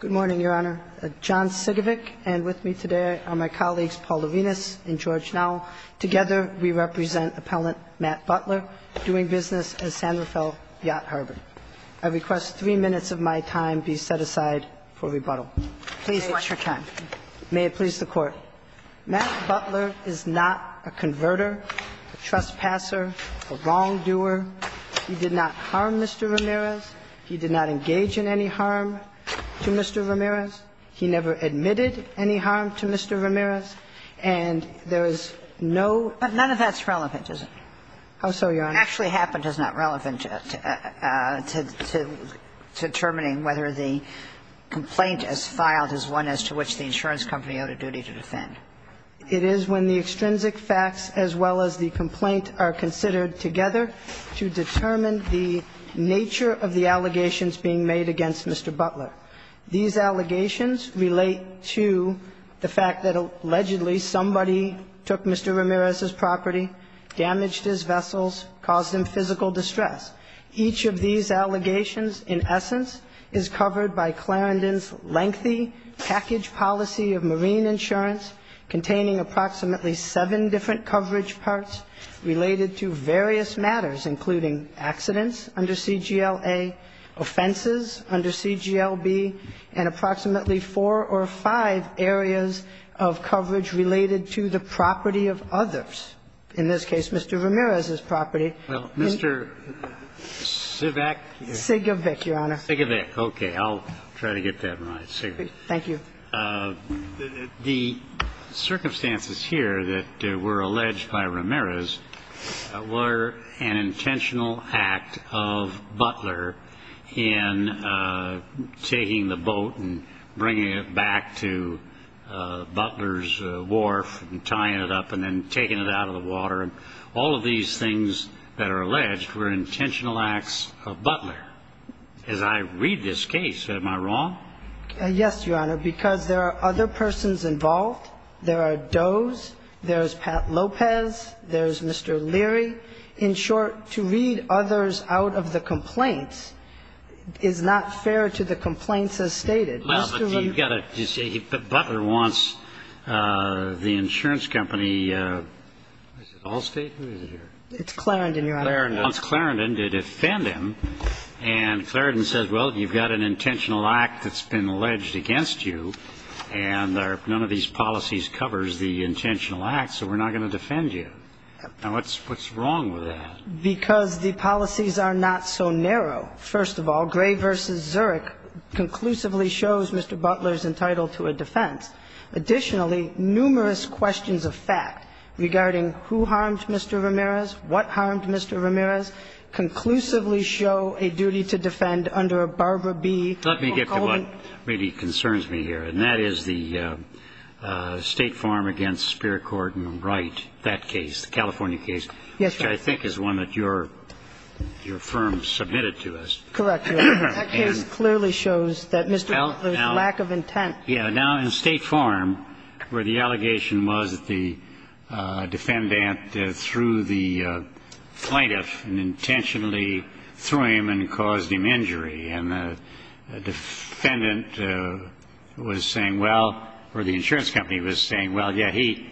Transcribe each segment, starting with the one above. Good morning, Your Honor. John Sigovic and with me today are my colleagues Paul Lavinas and George Nowell. Together, we represent Appellant Matt Butler doing business at San Rafael Yacht Harbor. I request three minutes of my time be set aside for rebuttal. Please watch your time. May it please the Court. Matt Butler is not a converter, a trespasser, a wrongdoer. He did not harm Mr. Ramirez. He did not engage in any harm. He never admitted any harm to Mr. Ramirez. And there is no But none of that's relevant, is it? I'm sorry, Your Honor. Actually happened is not relevant to determining whether the complaint is filed as one as to which the insurance company owed a duty to defend. It is when the extrinsic facts as well as the complaint are considered together to determine the nature of the allegations being made against Mr. Butler. These allegations relate to the fact that allegedly somebody took Mr. Ramirez's property, damaged his vessels, caused him physical distress. Each of these allegations, in essence, is covered by Clarendon's lengthy package policy of marine insurance containing approximately seven different coverage parts related to various matters, including accidents under CGL-A, offenses under CGL-B, and approximately four or five areas of coverage related to the property of others, in this case, Mr. Ramirez's property. Well, Mr. Sivak? Sigovic, Your Honor. Sigovic, okay. I'll try to get that right, Sigovic. Thank you. The circumstances here that were alleged by Ramirez were an intentional act of Butler in taking the boat and bringing it back to Butler's wharf and tying it up and then taking it out of the water. All of these things that are alleged were intentional acts of Butler. So, Mr. Sivak, would you like to comment on that? Yes, Your Honor, because there are other persons involved. There are Doe's. There's Pat Lopez. There's Mr. Leary. In short, to read others out of the complaints is not fair to the complaints as stated. Well, but you've got to say Butler wants the insurance company, Allstate? It's Clarendon, Your Honor. Clarendon, to defend him, and Clarendon says, well, you've got an intentional act that's been alleged against you, and none of these policies covers the intentional acts, so we're not going to defend you. Now, what's wrong with that? Because the policies are not so narrow. First of all, Gray v. Zurich conclusively shows Mr. Butler is entitled to a defense. Additionally, numerous questions of fact regarding who harmed Mr. Ramirez, what harmed Mr. Ramirez, conclusively show a duty to defend under a Barbara B. Let me get to what really concerns me here, and that is the State Farm against Spear, Cord, and Wright, that case, the California case, which I think is one that your firm submitted to us. Correct, Your Honor. That case clearly shows that Mr. Butler's lack of intent. Yeah. Now, in State Farm, where the allegation was that the defendant threw the plaintiff and intentionally threw him and caused him injury, and the defendant was saying well or the insurance company was saying, well, yeah, he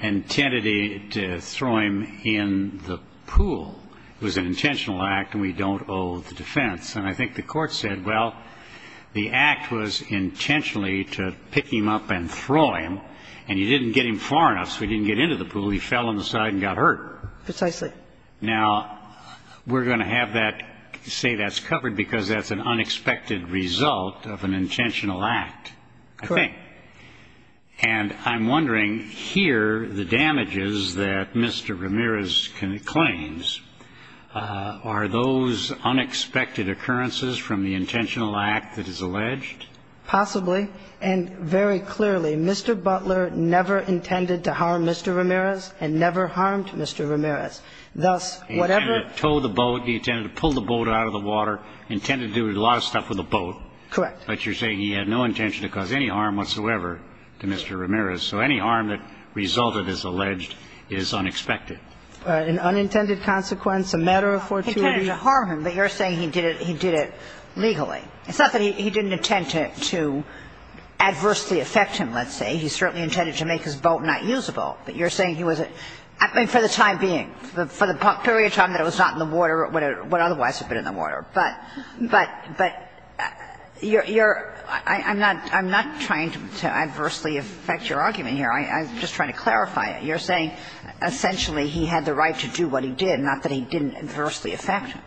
intended to throw him in the pool, it was an intentional act, and we don't owe the defense. And I think the Court said, well, the act was intentionally to pick him up and throw him, and you didn't get him far enough, so he didn't get into the pool, he fell on the side and got hurt. Precisely. Now, we're going to have that say that's covered because that's an unexpected result of an intentional act, I think. Correct. And I'm wondering, here, the damages that Mr. Ramirez claims, are those unexpected occurrences from the intentional act that is alleged? Possibly, and very clearly, Mr. Butler never intended to harm Mr. Ramirez and never harmed Mr. Ramirez. He intended to tow the boat, he intended to pull the boat out of the water, intended to do a lot of stuff with the boat. Correct. But you're saying he had no intention to cause any harm whatsoever to Mr. Ramirez. So any harm that resulted, as alleged, is unexpected. An unintended consequence, a matter of fortuity to harm him. But you're saying he did it legally. It's not that he didn't intend to adversely affect him, let's say. He certainly intended to make his boat not usable. But you're saying he was, I mean, for the time being, for the period of time that But, but, but, you're, I'm not trying to adversely affect your argument here. I'm just trying to clarify it. You're saying essentially he had the right to do what he did, not that he didn't adversely affect him.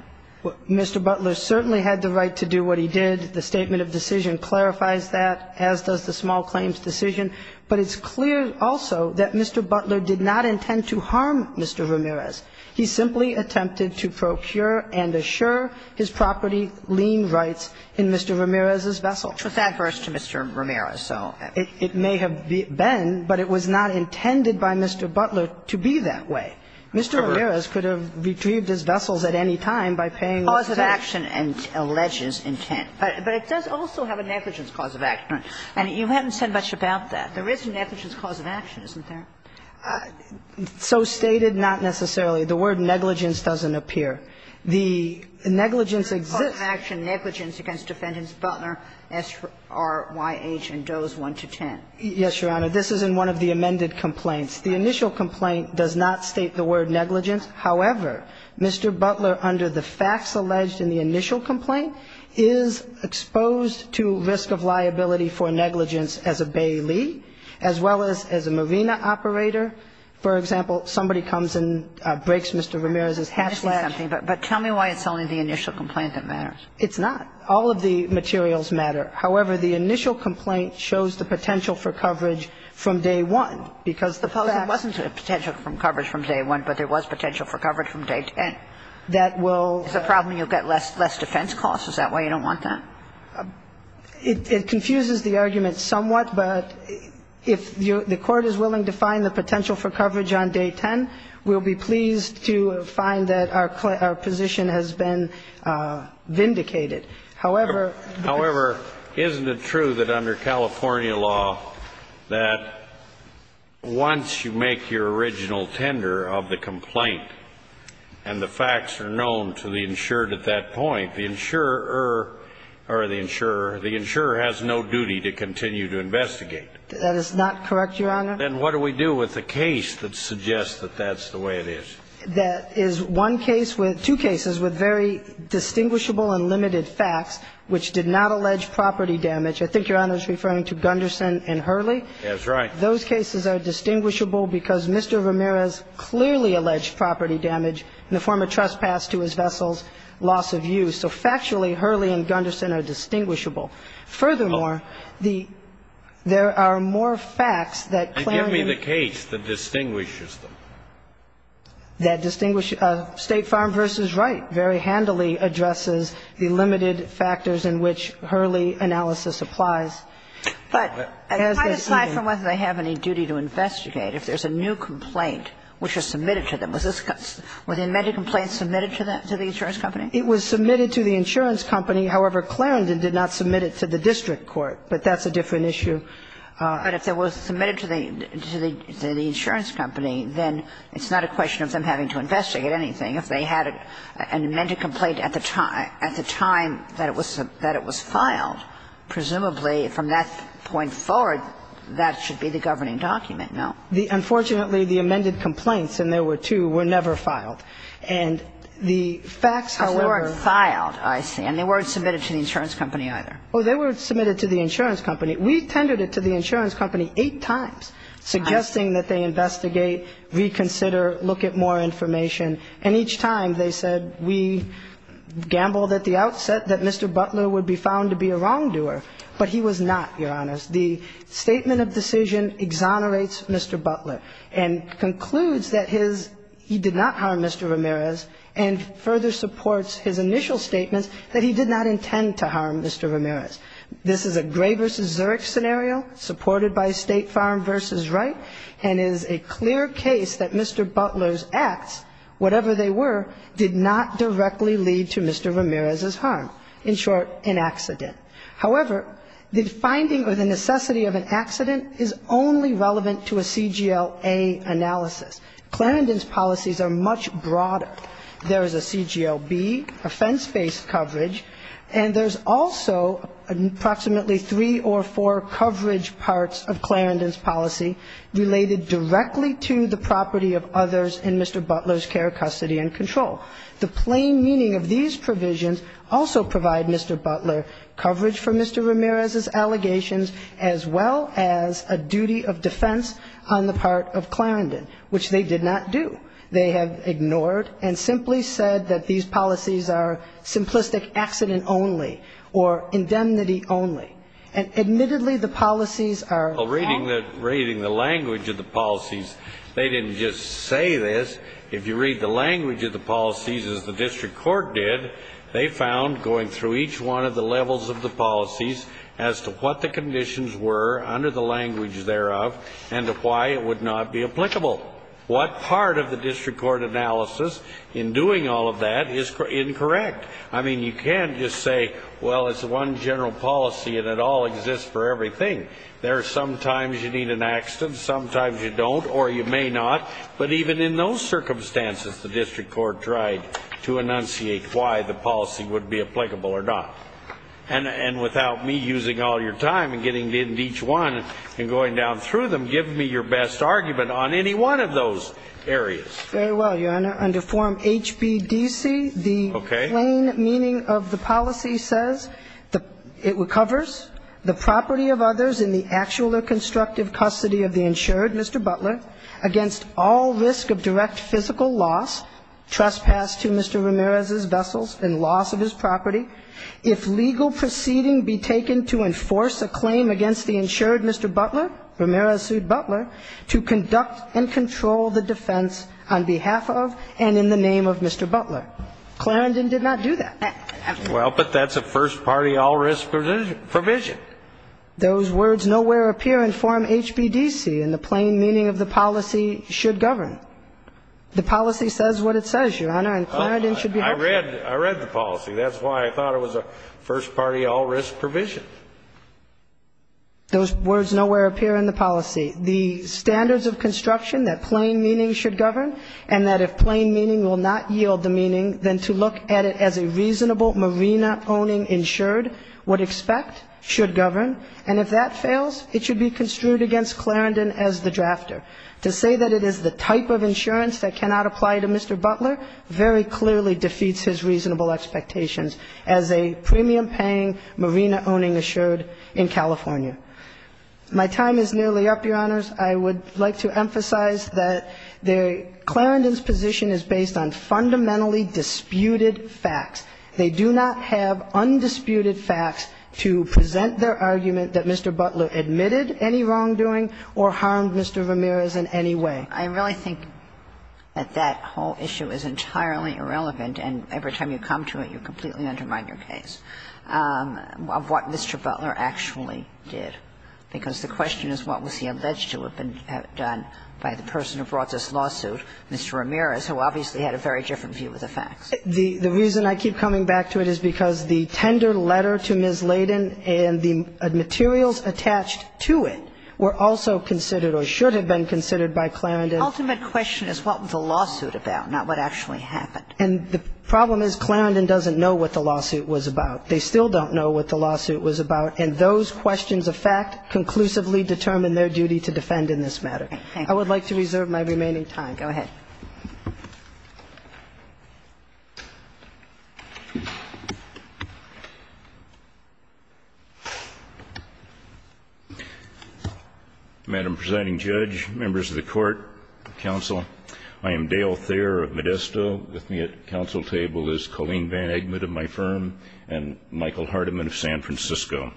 Mr. Butler certainly had the right to do what he did. The statement of decision clarifies that, as does the small claims decision. But it's clear also that Mr. Butler did not intend to harm Mr. Ramirez. He simply attempted to procure and assure his property lien rights in Mr. Ramirez's vessel. It's adverse to Mr. Ramirez, so. It may have been, but it was not intended by Mr. Butler to be that way. Mr. Ramirez could have retrieved his vessels at any time by paying the same. Cause of action and alleged intent. But it does also have a negligence cause of action. And you haven't said much about that. There is a negligence cause of action, isn't there? So stated, not necessarily. The word negligence doesn't appear. The negligence exists. Cause of action negligence against defendants Butler, S.R.Y.H., and Doe's, 1 to 10. Yes, Your Honor. This is in one of the amended complaints. The initial complaint does not state the word negligence. However, Mr. Butler, under the facts alleged in the initial complaint, is exposed to risk of liability for negligence as a bailee, as well as a marina operator. For example, somebody comes and breaks Mr. Ramirez's hatchet. But tell me why it's only the initial complaint that matters. It's not. All of the materials matter. However, the initial complaint shows the potential for coverage from day one. Because the facts. It wasn't a potential for coverage from day one, but there was potential for coverage from day ten. That will. It's a problem you'll get less defense costs. Is that why you don't want that? It confuses the argument somewhat, but if the court is willing to find the potential for coverage on day ten, we'll be pleased to find that our position has been vindicated. However. However, isn't it true that under California law that once you make your original tender of the complaint, and the facts are known to the insured at that point, the insurer has no duty to continue to investigate? That is not correct, Your Honor. Then what do we do with the case that suggests that that's the way it is? That is one case with two cases with very distinguishable and limited facts, which did not allege property damage. I think Your Honor is referring to Gunderson and Hurley. That's right. Those cases are distinguishable because Mr. Ramirez clearly alleged property damage in the form of trespass to his vessel's loss of use. So factually, Hurley and Gunderson are distinguishable. Furthermore, the – there are more facts that clearly – Then give me the case that distinguishes them. That distinguish – State Farm v. Wright very handily addresses the limited factors in which Hurley analysis applies. But as the – But aside from whether they have any duty to investigate, if there's a new complaint which was submitted to them, was this – were the amended complaints submitted to the insurance company? It was submitted to the insurance company. However, Clarendon did not submit it to the district court. But that's a different issue. But if it was submitted to the insurance company, then it's not a question of them having to investigate anything. If they had an amended complaint at the time – at the time that it was filed, presumably from that point forward, that should be the governing document, no? Unfortunately, the amended complaints, and there were two, were never filed. And the facts, however – They weren't filed, I see. And they weren't submitted to the insurance company either. Well, they were submitted to the insurance company. We tended it to the insurance company eight times, suggesting that they investigate, reconsider, look at more information. And each time, they said we gambled at the outset that Mr. Butler would be found to be a wrongdoer. But he was not, Your Honors. The statement of decision exonerates Mr. Butler and concludes that his – he did not harm Mr. Ramirez and further supports his initial statements that he did not intend to harm Mr. Ramirez. This is a Gray v. Zurich scenario, supported by State Farm v. Wright, and is a clear case that Mr. Butler's acts, whatever they were, did not directly lead to Mr. Ramirez's harm. In short, an accident. However, the finding or the necessity of an accident is only relevant to a CGLA analysis. Clarendon's policies are much broader. There is a CGLB, offense-based coverage. And there's also approximately three or four coverage parts of Clarendon's policy related directly to the property of others in Mr. Butler's care, custody, and control. The plain meaning of these provisions also provide Mr. Butler coverage for Mr. Ramirez's allegations, as well as a duty of defense on the part of Clarendon, which they did not do. They have ignored and simply said that these policies are simplistic accident only, or indemnity only. And admittedly, the policies are- Well, reading the language of the policies, they didn't just say this. If you read the language of the policies as the district court did, they found, going through each one of the levels of the policies, as to what the conditions were under the language thereof, and why it would not be applicable. What part of the district court analysis in doing all of that is incorrect. I mean, you can't just say, well, it's one general policy and it all exists for everything. There are some times you need an accident, some times you don't, or you may not. But even in those circumstances, the district court tried to enunciate why the policy would be applicable or not. And without me using all your time and getting into each one and going down through them, give me your best argument on any one of those areas. Very well, Your Honor. Under Form HBDC, the plain meaning of the policy says it recovers the property of others in the actual or constructive custody of the insured, Mr. Butler, against all risk of direct physical loss, trespass to Mr. Ramirez's vessels, and loss of his property. If legal proceeding be taken to enforce a claim against the insured Mr. Butler, Ramirez sued Butler, to conduct and control the defense on behalf of and in the name of Mr. Butler. Clarendon did not do that. Well, but that's a first party all risk provision. Those words nowhere appear in Form HBDC, and the plain meaning of the policy should govern. The policy says what it says, Your Honor, and Clarendon should be helpful. I read the policy. That's why I thought it was a first party all risk provision. Those words nowhere appear in the policy. The standards of construction that plain meaning should govern, and that if plain meaning will not yield the meaning, then to look at it as a reasonable marina owning insured would expect should govern. And if that fails, it should be construed against Clarendon as the drafter. To say that it is the type of insurance that cannot apply to Mr. Butler's expectations as a premium paying marina owning insured in California. My time is nearly up, Your Honors. I would like to emphasize that Clarendon's position is based on fundamentally disputed facts. They do not have undisputed facts to present their argument that Mr. Butler admitted any wrongdoing or harmed Mr. Ramirez in any way. I really think that that whole issue is entirely irrelevant, and every time you come to it, you completely undermine your case, of what Mr. Butler actually did, because the question is what was he alleged to have been done by the person who brought this lawsuit, Mr. Ramirez, who obviously had a very different view of the facts. The reason I keep coming back to it is because the tender letter to Ms. Layden and the materials attached to it were also considered or should have been considered by Clarendon. The ultimate question is what was the lawsuit about, not what actually happened. And the problem is Clarendon doesn't know what the lawsuit was about. They still don't know what the lawsuit was about, and those questions of fact conclusively determine their duty to defend in this matter. I would like to reserve my remaining time. Go ahead. Madam Presiding Judge, members of the Court, counsel, I am Dale Thayer of Modesto. With me at the counsel table is Colleen Van Eggman of my firm and Michael Hardiman of San Francisco.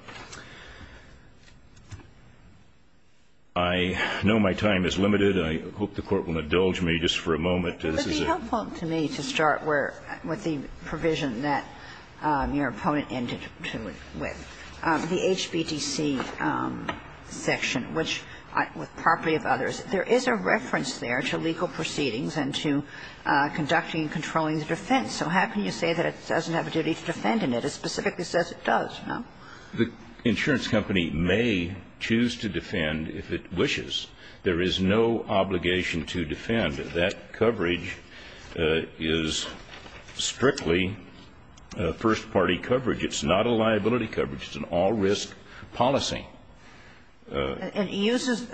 I know my time is limited, and I hope the Court will indulge me. I have a question. I just want to clarify my presentation. Just for a moment, this is a question. It would be helpful to me to start where the provision that your opponent ended to it with. The HBTC section, which with property of others, there is a reference there to legal proceedings and to conducting and controlling the defense. So how can you say that it doesn't have a duty to defend in it? It specifically says it does, no? The insurance company may choose to defend if it wishes. There is no obligation to defend. That coverage is strictly first-party coverage. It's not a liability coverage. It's an all-risk policy. And it uses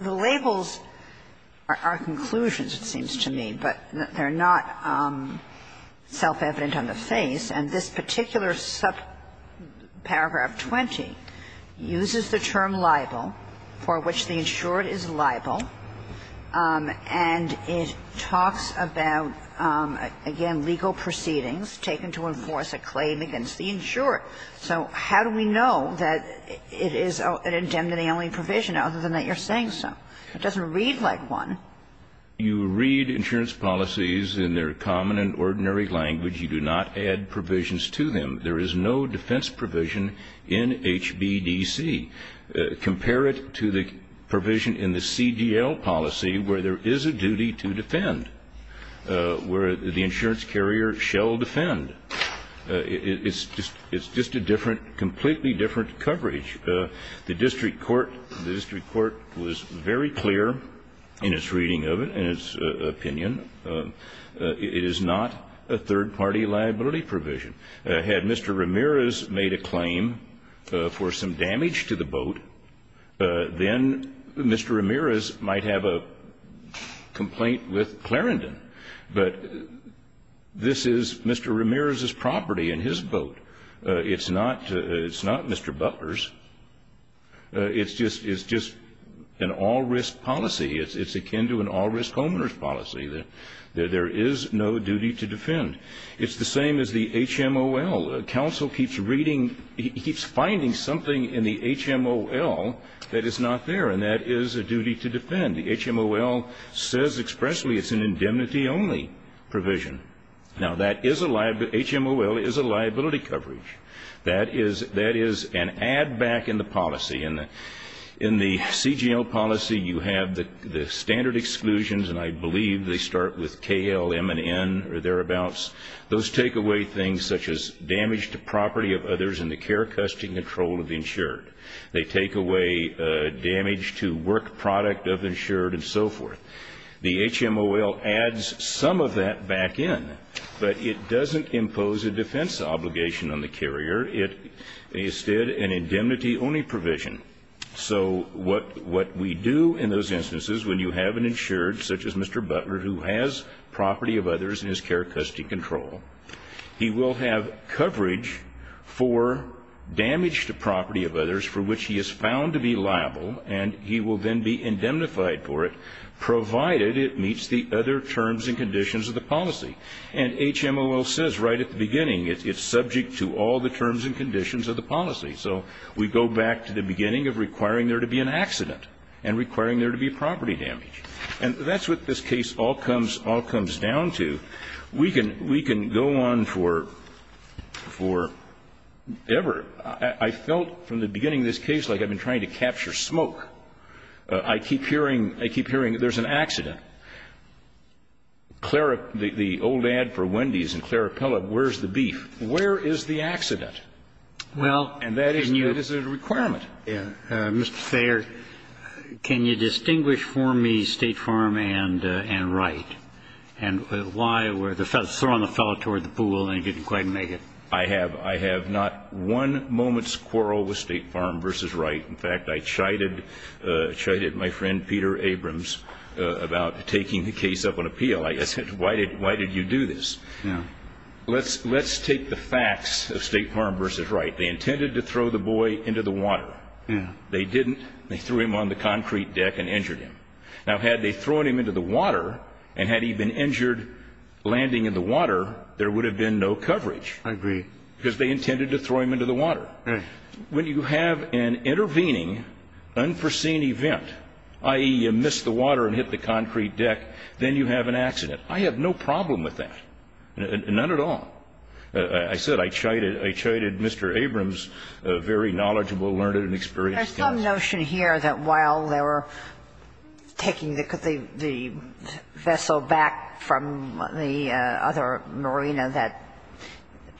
the labels are conclusions, it seems to me, but they're not. It's self-evident on the face. And this particular paragraph 20 uses the term liable, for which the insured is liable. And it talks about, again, legal proceedings taken to enforce a claim against the insured. So how do we know that it is an indemnity-only provision, other than that you're saying so? It doesn't read like one. You read insurance policies in their common and ordinary language. You do not add provisions to them. There is no defense provision in HBDC. Compare it to the provision in the CDL policy, where there is a duty to defend, where the insurance carrier shall defend. It's just a different, completely different coverage. The district court was very clear in its reading of it, in its opinion. It is not a third-party liability provision. Had Mr. Ramirez made a claim for some damage to the boat, then Mr. Ramirez might have a complaint with Clarendon. But this is Mr. Ramirez's property and his boat. It's not Mr. Butler's. It's just an all-risk policy. It's akin to an all-risk homeowner's policy, that there is no duty to defend. It's the same as the HMOL. Counsel keeps reading, keeps finding something in the HMOL that is not there, and that is a duty to defend. The HMOL says expressly it's an indemnity-only provision. Now, HMOL is a liability coverage. That is an add-back in the policy. In the CGL policy, you have the standard exclusions, and I believe they start with KLMN or thereabouts. Those take away things such as damage to property of others and the care, custody, and control of the insured. They take away damage to work product of the insured and so forth. The HMOL adds some of that back in, but it doesn't impose a defense obligation on the carrier. It instead, an indemnity-only provision. So what we do in those instances, when you have an insured, such as Mr. Butler, who has property of others in his care, custody, control, he will have coverage for damage to property of others for which he is found to be liable, and he will then be indemnified for it, provided it meets the other terms and conditions of the policy. And HMOL says right at the beginning, it's subject to all the terms and conditions of the policy. So we go back to the beginning of requiring there to be an accident and requiring there to be property damage. And that's what this case all comes down to. We can go on forever. I felt, from the beginning of this case, like I've been trying to capture smoke. I keep hearing, I keep hearing there's an accident. Clara, the old ad for Wendy's and Clara Pellett, where's the beef? Where is the accident? And that is a requirement. Mr. Thayer, can you distinguish for me State Farm and Wright? And why were the fellows, throwing the fellow toward the pool and he didn't quite make it? I have. I have not one moment's quarrel with State Farm versus Wright. In fact, I chided my friend Peter Abrams about taking the case up on appeal. I said, why did you do this? Let's take the facts of State Farm versus Wright. They intended to throw the boy into the water. They didn't. They threw him on the concrete deck and injured him. Now, had they thrown him into the water and had he been injured landing in the water, there would have been no coverage. I agree. Because they intended to throw him into the water. When you have an intervening unforeseen event, i.e., you miss the water and hit the concrete deck, then you have an accident. I have no problem with that. None at all. I said I chided Mr. Abrams, a very knowledgeable, learned, and experienced guy. There's some notion here that while they were taking the vessel back from the other marina, that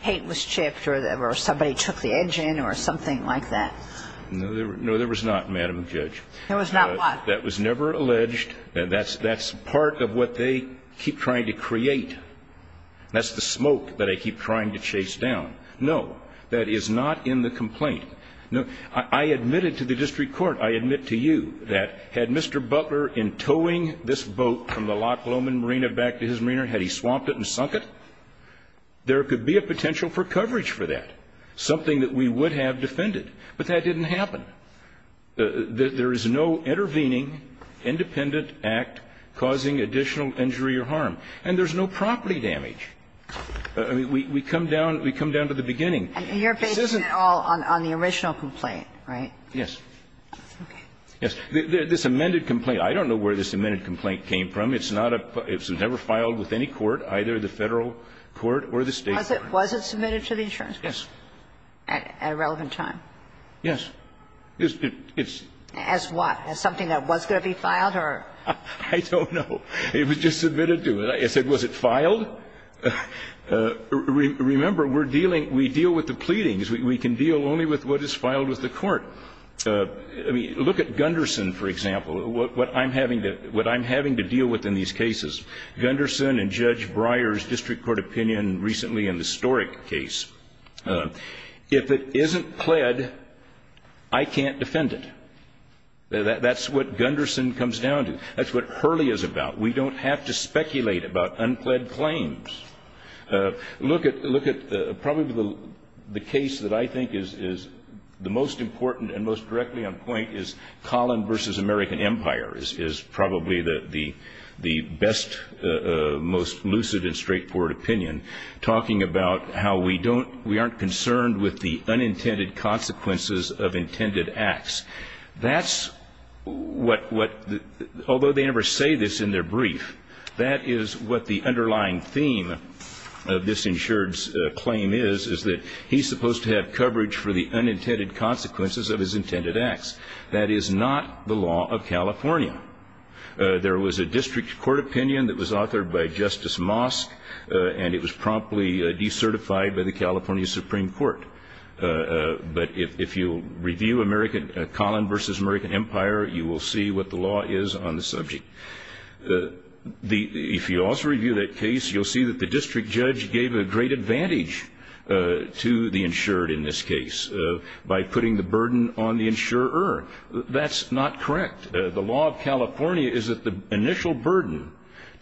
paint was chipped or somebody took the engine or something like that. No, there was not, Madam Judge. There was not what? That was never alleged. That's part of what they keep trying to create. That's the smoke that they keep trying to chase down. No, that is not in the complaint. I admitted to the district court, I admit to you, that had Mr. Butler, in towing this boat from the Loch Lomond Marina back to his marina, had he swamped it and sunk it, there could be a potential for coverage for that, something that we would have defended. But that didn't happen. There is no intervening, independent act causing additional injury or harm. And there's no property damage. We come down to the beginning. And you're basing it all on the original complaint, right? Yes. Okay. Yes. This amended complaint, I don't know where this amended complaint came from. It's not a – it was never filed with any court, either the Federal court or the State court. Was it submitted to the insurance company? Yes. At a relevant time? Yes. It's – it's – As what? As something that was going to be filed or? I don't know. It was just submitted to. I said, was it filed? Remember, we're dealing – we deal with the pleadings. We can deal only with what is filed with the court. I mean, look at Gunderson, for example, what I'm having to – what I'm having to deal with in these cases. Gunderson and Judge Breyer's district court opinion recently in the Storick case. If it isn't pled, I can't defend it. That's what Gunderson comes down to. That's what Hurley is about. We don't have to speculate about unpled claims. Look at – look at probably the case that I think is the most important and most directly on point is Collin v. American Empire is probably the best, most lucid and straightforward opinion, talking about how we don't – we aren't concerned with the unintended consequences of intended acts. That's what – although they never say this in their brief, that is what the underlying theme of this insured's claim is, is that he's supposed to have coverage for the unintended consequences of his intended acts. That is not the law of California. There was a district court opinion that was authored by Justice Mosk, and it was promptly decertified by the California Supreme Court. But if you review American – Collin v. American Empire, you will see what the law is on the subject. The – if you also review that case, you'll see that the district judge gave a great advantage to the insured in this case by putting the burden on the insurer. That's not correct. The law of California is that the initial burden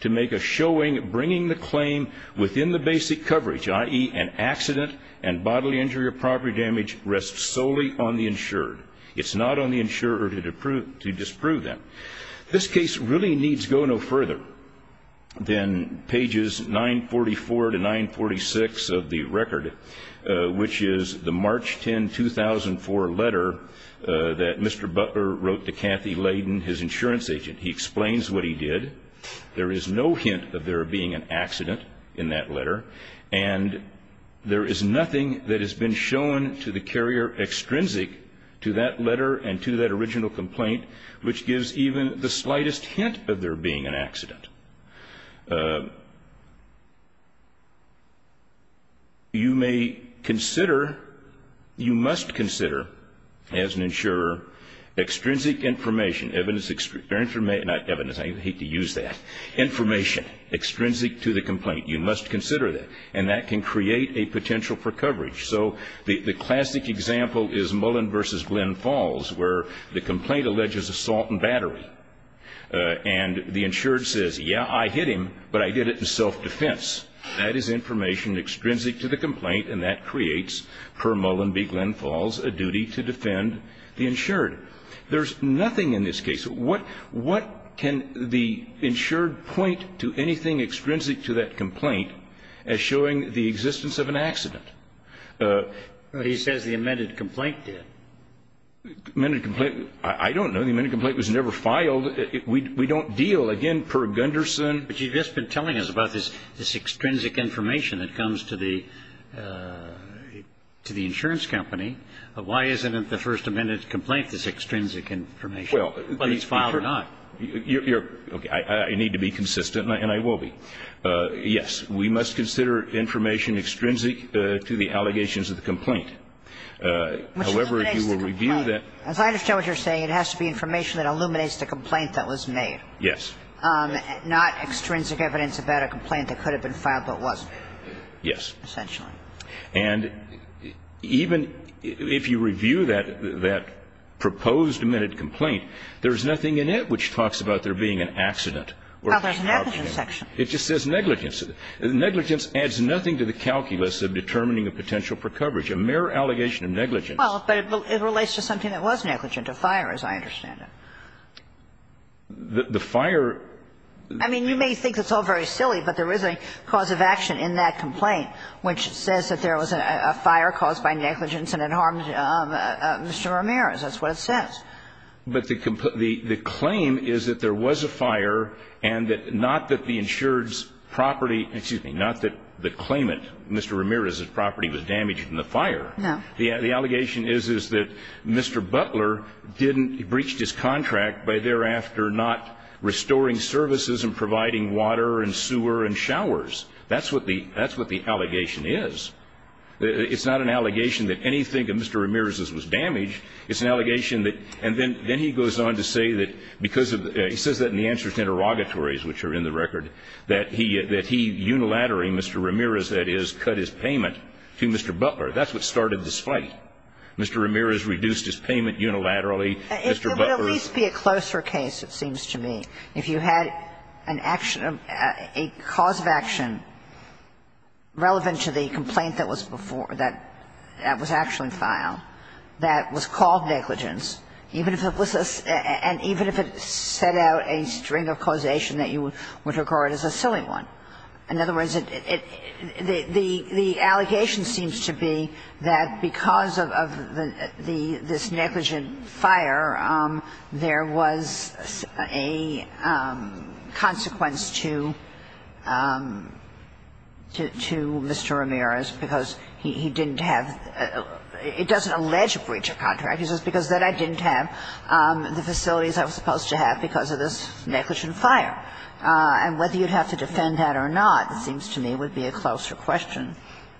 to make a showing bringing the claim within the basic coverage, i.e., an accident and bodily injury or property damage rests solely on the insured. It's not on the insurer to disprove them. This case really needs go no further than pages 944 to 946 of the record, which is the March 10, 2004 letter that Mr. Butler wrote to Kathy Layden, his insurance agent. He explains what he did. There is no hint of there being an accident in that letter, and there is nothing that has been shown to the carrier extrinsic to that letter and to that original complaint which gives even the slightest hint of there being an accident. You may consider – you must consider, as an insurer, extrinsic information, evidence – not evidence, I hate to use that – information extrinsic to the complaint. You must consider that, and that can create a potential for coverage. So the classic example is Mullen v. Glenn Falls, where the complaint alleges assault and battery, and the insured says, yeah, I hit him, but I did it in self-defense. That is information extrinsic to the complaint, and that creates, per Mullen v. Glenn Falls, a duty to defend the insured. There's nothing in this case – what can the insured point to anything extrinsic to that complaint as showing the existence of an accident? He says the amended complaint did. Amended complaint? I don't know. The amended complaint was never filed. We don't deal, again, per Gunderson. But you've just been telling us about this extrinsic information that comes to the insurance company. Why isn't the first amended complaint this extrinsic information? Well, it's filed not. I need to be consistent, and I will be. Yes, we must consider information extrinsic to the allegations of the complaint. However, if you will review that – Which illuminates the complaint. As I understand what you're saying, it has to be information that illuminates the complaint that was made. Yes. Not extrinsic evidence about a complaint that could have been filed but wasn't. Yes. Essentially. And even if you review that proposed amended complaint, there's nothing in it which talks about there being an accident. Well, there's an evidence section. It just says negligence. Negligence adds nothing to the calculus of determining a potential for coverage. A mere allegation of negligence. Well, but it relates to something that was negligent, a fire, as I understand it. The fire – I mean, you may think it's all very silly, but there is a cause of action in that complaint, which says that there was a fire caused by negligence and it harmed Mr. Ramirez. That's what it says. But the claim is that there was a fire and that – not that the insured's property – excuse me – not that the claimant, Mr. Ramirez's property, was damaged in the fire. No. The allegation is, is that Mr. Butler didn't – he breached his contract by thereafter not restoring services and providing water and sewer and showers. That's what the – that's what the allegation is. It's not an allegation that anything of Mr. Ramirez's was damaged. It's an allegation that – and then he goes on to say that because of – he says that in the answer to interrogatories, which are in the record, that he – that he unilaterally, Mr. Ramirez, that is, cut his payment to Mr. Butler. That's what started this fight. Mr. Ramirez reduced his payment unilaterally. Mr. Butler's – It would at least be a closer case, it seems to me. If you had an action – a cause of action relevant to the complaint that was before that – that was actually filed, that was called negligence, even if it was a – and even if it set out a string of causation that you would regard as a silly one. In other words, it – the allegation seems to be that because of the – this negligent fire, there was a consequence to – to Mr. Ramirez because he didn't have – it doesn't allege a breach of contract. It's just because then I didn't have the facilities I was supposed to have because of this negligent fire. And whether you'd have to defend that or not, it seems to me, would be a closer question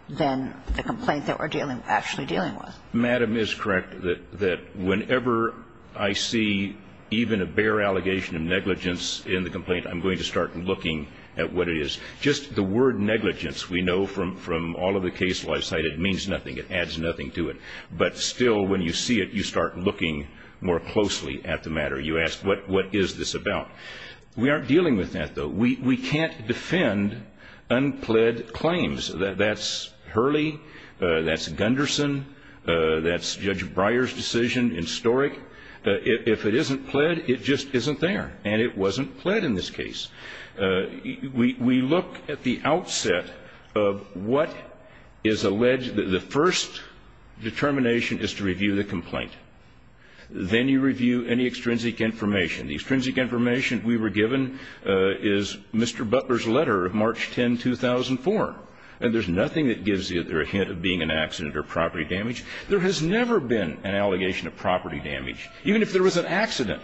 than the complaint that we're dealing – actually dealing with. Madam is correct that whenever I see even a bare allegation of negligence in the complaint, I'm going to start looking at what it is. Just the word negligence, we know from all of the cases I've cited, means nothing. It adds nothing to it. But still, when you see it, you start looking more closely at the matter. You ask, what is this about? We aren't dealing with that, though. We can't defend unpled claims. That's Hurley, that's Gunderson, that's Judge Breyer's decision in Storick. If it isn't pled, it just isn't there. And it wasn't pled in this case. We look at the outset of what is alleged. The first determination is to review the complaint. Then you review any extrinsic information. The extrinsic information we were given is Mr. Butler's letter of March 10, 2004. There's nothing that gives either a hint of being an accident or property damage. There has never been an allegation of property damage, even if there was an accident.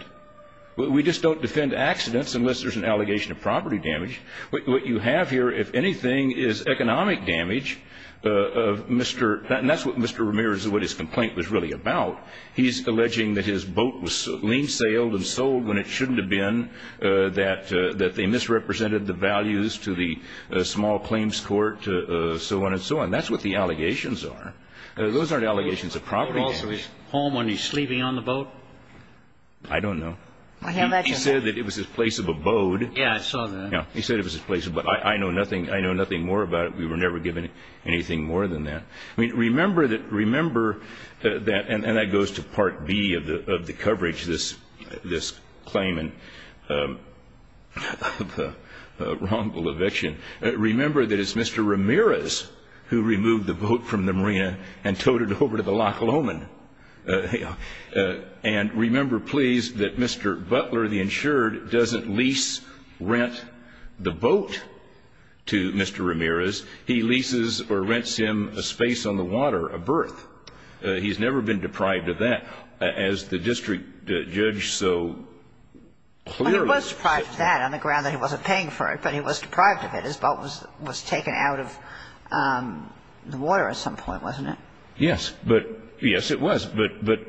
We just don't defend accidents unless there's an allegation of property damage. What you have here, if anything, is economic damage. That's what Mr. Ramirez, what his complaint was really about. He's alleging that his boat was lean-sailed and sold when it shouldn't have been, that they misrepresented the values to the small claims court, so on and so on. That's what the allegations are. Those aren't allegations of property damage. He was home when he was sleeping on the boat? I don't know. He said that it was his place of abode. Yes, I saw that. Yes. He said it was his place of abode. I know nothing more about it. We were never given anything more than that. I mean, remember that, and that goes to Part B of the coverage, this claim. The wrongful eviction. Remember that it's Mr. Ramirez who removed the boat from the marina and towed it over to the Loch Lomond. Remember, please, that Mr. Butler, the insured, doesn't lease, rent the boat to Mr. Ramirez. He leases or rents him a space on the water, a berth. He's never been deprived of that. As the district judge so clearly said. Well, he was deprived of that on the ground that he wasn't paying for it, but he was deprived of it. His boat was taken out of the water at some point, wasn't it? Yes. But yes, it was. But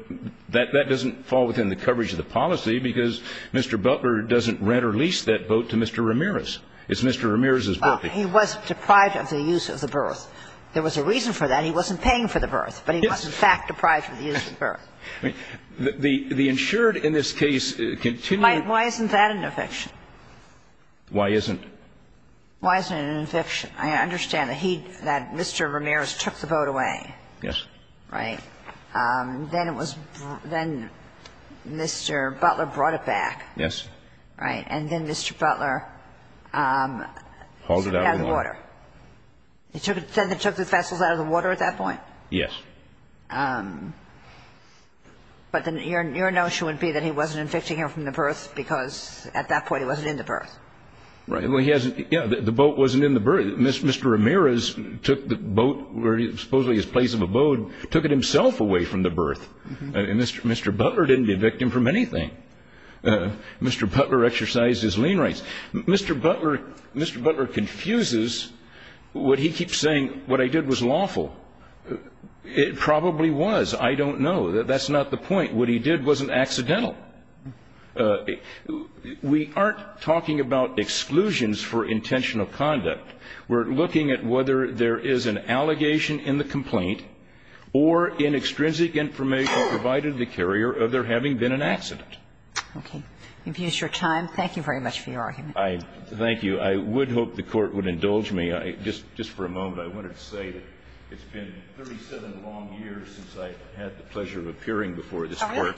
that doesn't fall within the coverage of the policy because Mr. Butler doesn't rent or lease that boat to Mr. Ramirez. It's Mr. Ramirez's berth. He was deprived of the use of the berth. There was a reason for that. The insured in this case continued. Why isn't that an eviction? Why isn't? Why isn't it an eviction? I understand that he, that Mr. Ramirez took the boat away. Yes. Right. Then it was, then Mr. Butler brought it back. Yes. Right. And then Mr. Butler. Pulled it out of the water. He took it, then they took the vessels out of the water at that point? Yes. But then your notion would be that he wasn't evicting him from the berth because at that point he wasn't in the berth. Right. Well, he hasn't. Yeah. The boat wasn't in the berth. Mr. Ramirez took the boat where supposedly his place of abode, took it himself away from the berth. And Mr. Butler didn't evict him from anything. Mr. Butler exercised his lien rights. Mr. Butler. Mr. Butler confuses what he keeps saying what I did was lawful. It probably was. I don't know. That's not the point. What he did wasn't accidental. We aren't talking about exclusions for intentional conduct. We're looking at whether there is an allegation in the complaint or in extrinsic information provided the carrier of there having been an accident. Okay. You've used your time. Thank you very much for your argument. I thank you. I would hope the Court would indulge me. Just for a moment, I wanted to say that it's been 37 long years since I've had the opportunity of appearing before this Court.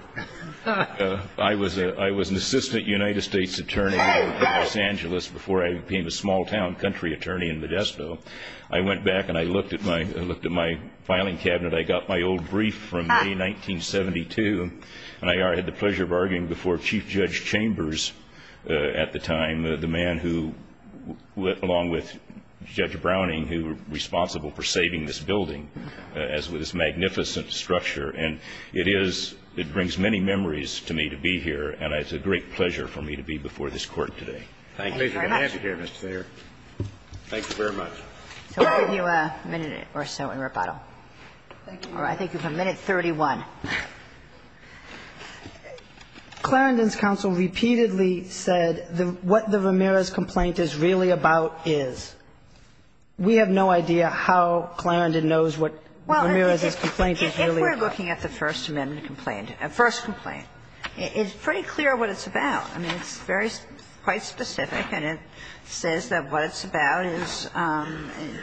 I was an assistant United States attorney in Los Angeles before I became a small town country attorney in Modesto. I went back and I looked at my filing cabinet. I got my old brief from May 1972, and I had the pleasure of arguing before Chief Judge Chambers at the time, the man who, along with Judge Browning, who were responsible for the case, was the Chief Justice of the United States. It is – it brings many memories to me to be here, and it's a great pleasure for me to be before this Court today. Thank you. Thank you very much. Pleasure to have you here, Mr. Sayre. Thank you very much. So we'll give you a minute or so in rebuttal. Thank you. All right. I think you have a minute 31. Clarendon's counsel repeatedly said what the Ramirez complaint is really about is. We have no idea how Clarendon knows what Ramirez's complaint is really about. If we're looking at the First Amendment complaint, First complaint, it's pretty clear what it's about. I mean, it's very – quite specific, and it says that what it's about is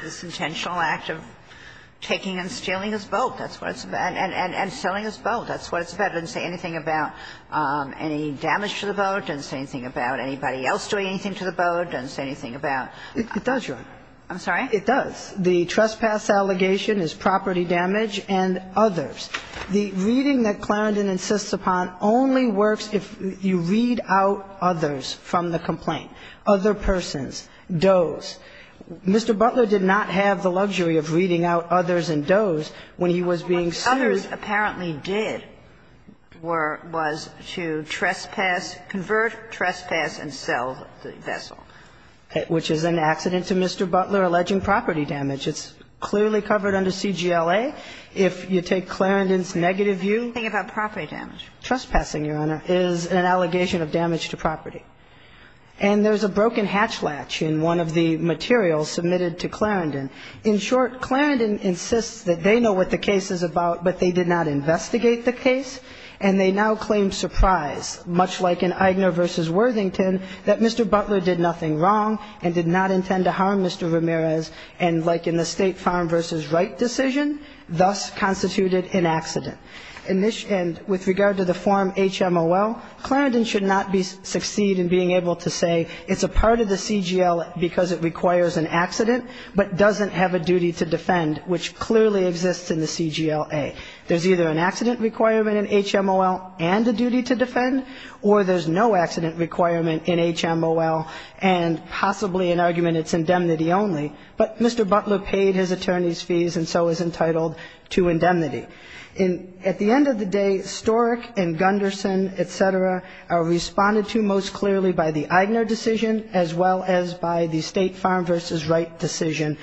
this intentional act of taking and stealing his boat. That's what it's about. And selling his boat. That's what it's about. It doesn't say anything about any damage to the boat. It doesn't say anything about anybody else doing anything to the boat. It doesn't say anything about – It does, Your Honor. I'm sorry? It does. The trespass allegation is property damage and others. The reading that Clarendon insists upon only works if you read out others from the complaint. Other persons. Does. Mr. Butler did not have the luxury of reading out others and does when he was being sued. What others apparently did were – was to trespass – convert, trespass, and sell the vessel. Which is an accident to Mr. Butler, alleging property damage. It's clearly covered under CGLA. If you take Clarendon's negative view – Think about property damage. Trespassing, Your Honor, is an allegation of damage to property. And there's a broken hatch latch in one of the materials submitted to Clarendon. In short, Clarendon insists that they know what the case is about, but they did not investigate the case. And they now claim surprise, much like in Aigner v. Worthington, that Mr. Butler did nothing wrong and did not intend to harm Mr. Ramirez. And like in the State Farm v. Wright decision, thus constituted an accident. In this – and with regard to the form HMOL, Clarendon should not be – succeed in being able to say it's a part of the CGLA because it requires an accident, but doesn't have a duty to defend, which clearly exists in the CGLA. There's either an accident requirement in HMOL and a duty to defend, or there's no accident requirement in HMOL and possibly an argument it's indemnity only. But Mr. Butler paid his attorney's fees and so is entitled to indemnity. At the end of the day, Storick and Gunderson, etc., are responded to most clearly by the Aigner decision as well as by the State Farm v. Wright decision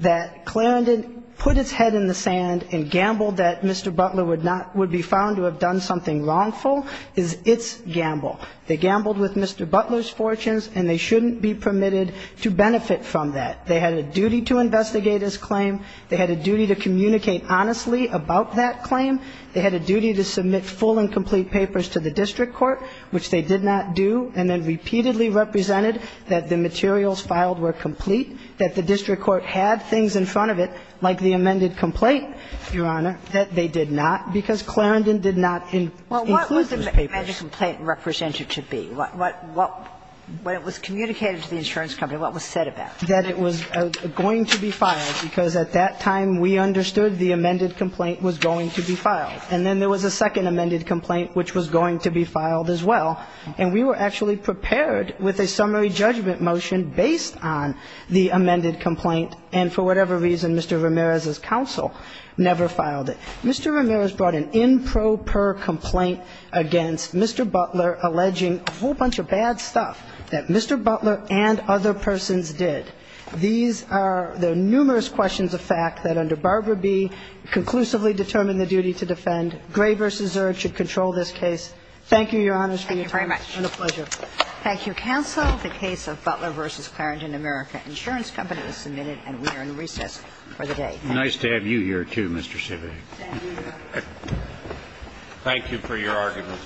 that Clarendon put its head in the sand and gambled that Mr. Butler would not – would be found to have done something wrongful is its gamble. They gambled with Mr. Butler's fortunes and they shouldn't be permitted to benefit from that. They had a duty to investigate his claim. They had a duty to communicate honestly about that claim. They had a duty to submit full and complete papers to the district court, which they did not do, and then repeatedly represented that the materials filed were complete, that the district court had things in front of it, like the amended complaint, Your Honor, that they did not, because Clarendon did not include those papers. Well, what was the amended complaint representative to be? What – what – what it was communicated to the insurance company, what was said about it? That it was going to be filed, because at that time we understood the amended complaint was going to be filed. And then there was a second amended complaint which was going to be filed as well. And we were actually prepared with a summary judgment motion based on the amended complaint, and for whatever reason, Mr. Ramirez's counsel never filed it. Mr. Ramirez brought an improper complaint against Mr. Butler alleging a whole bunch of bad stuff that Mr. Butler and other persons did. These are the numerous questions of fact that under Barber v. B conclusively determined the duty to defend. Gray v. Zurd should control this case. Thank you, Your Honors, for your time. Thank you very much. And a pleasure. Thank you, counsel. The case of Butler v. Clarendon America Insurance Company is submitted and we are in recess for the day. Thank you. Nice to have you here, too, Mr. Sivak. Thank you for your arguments.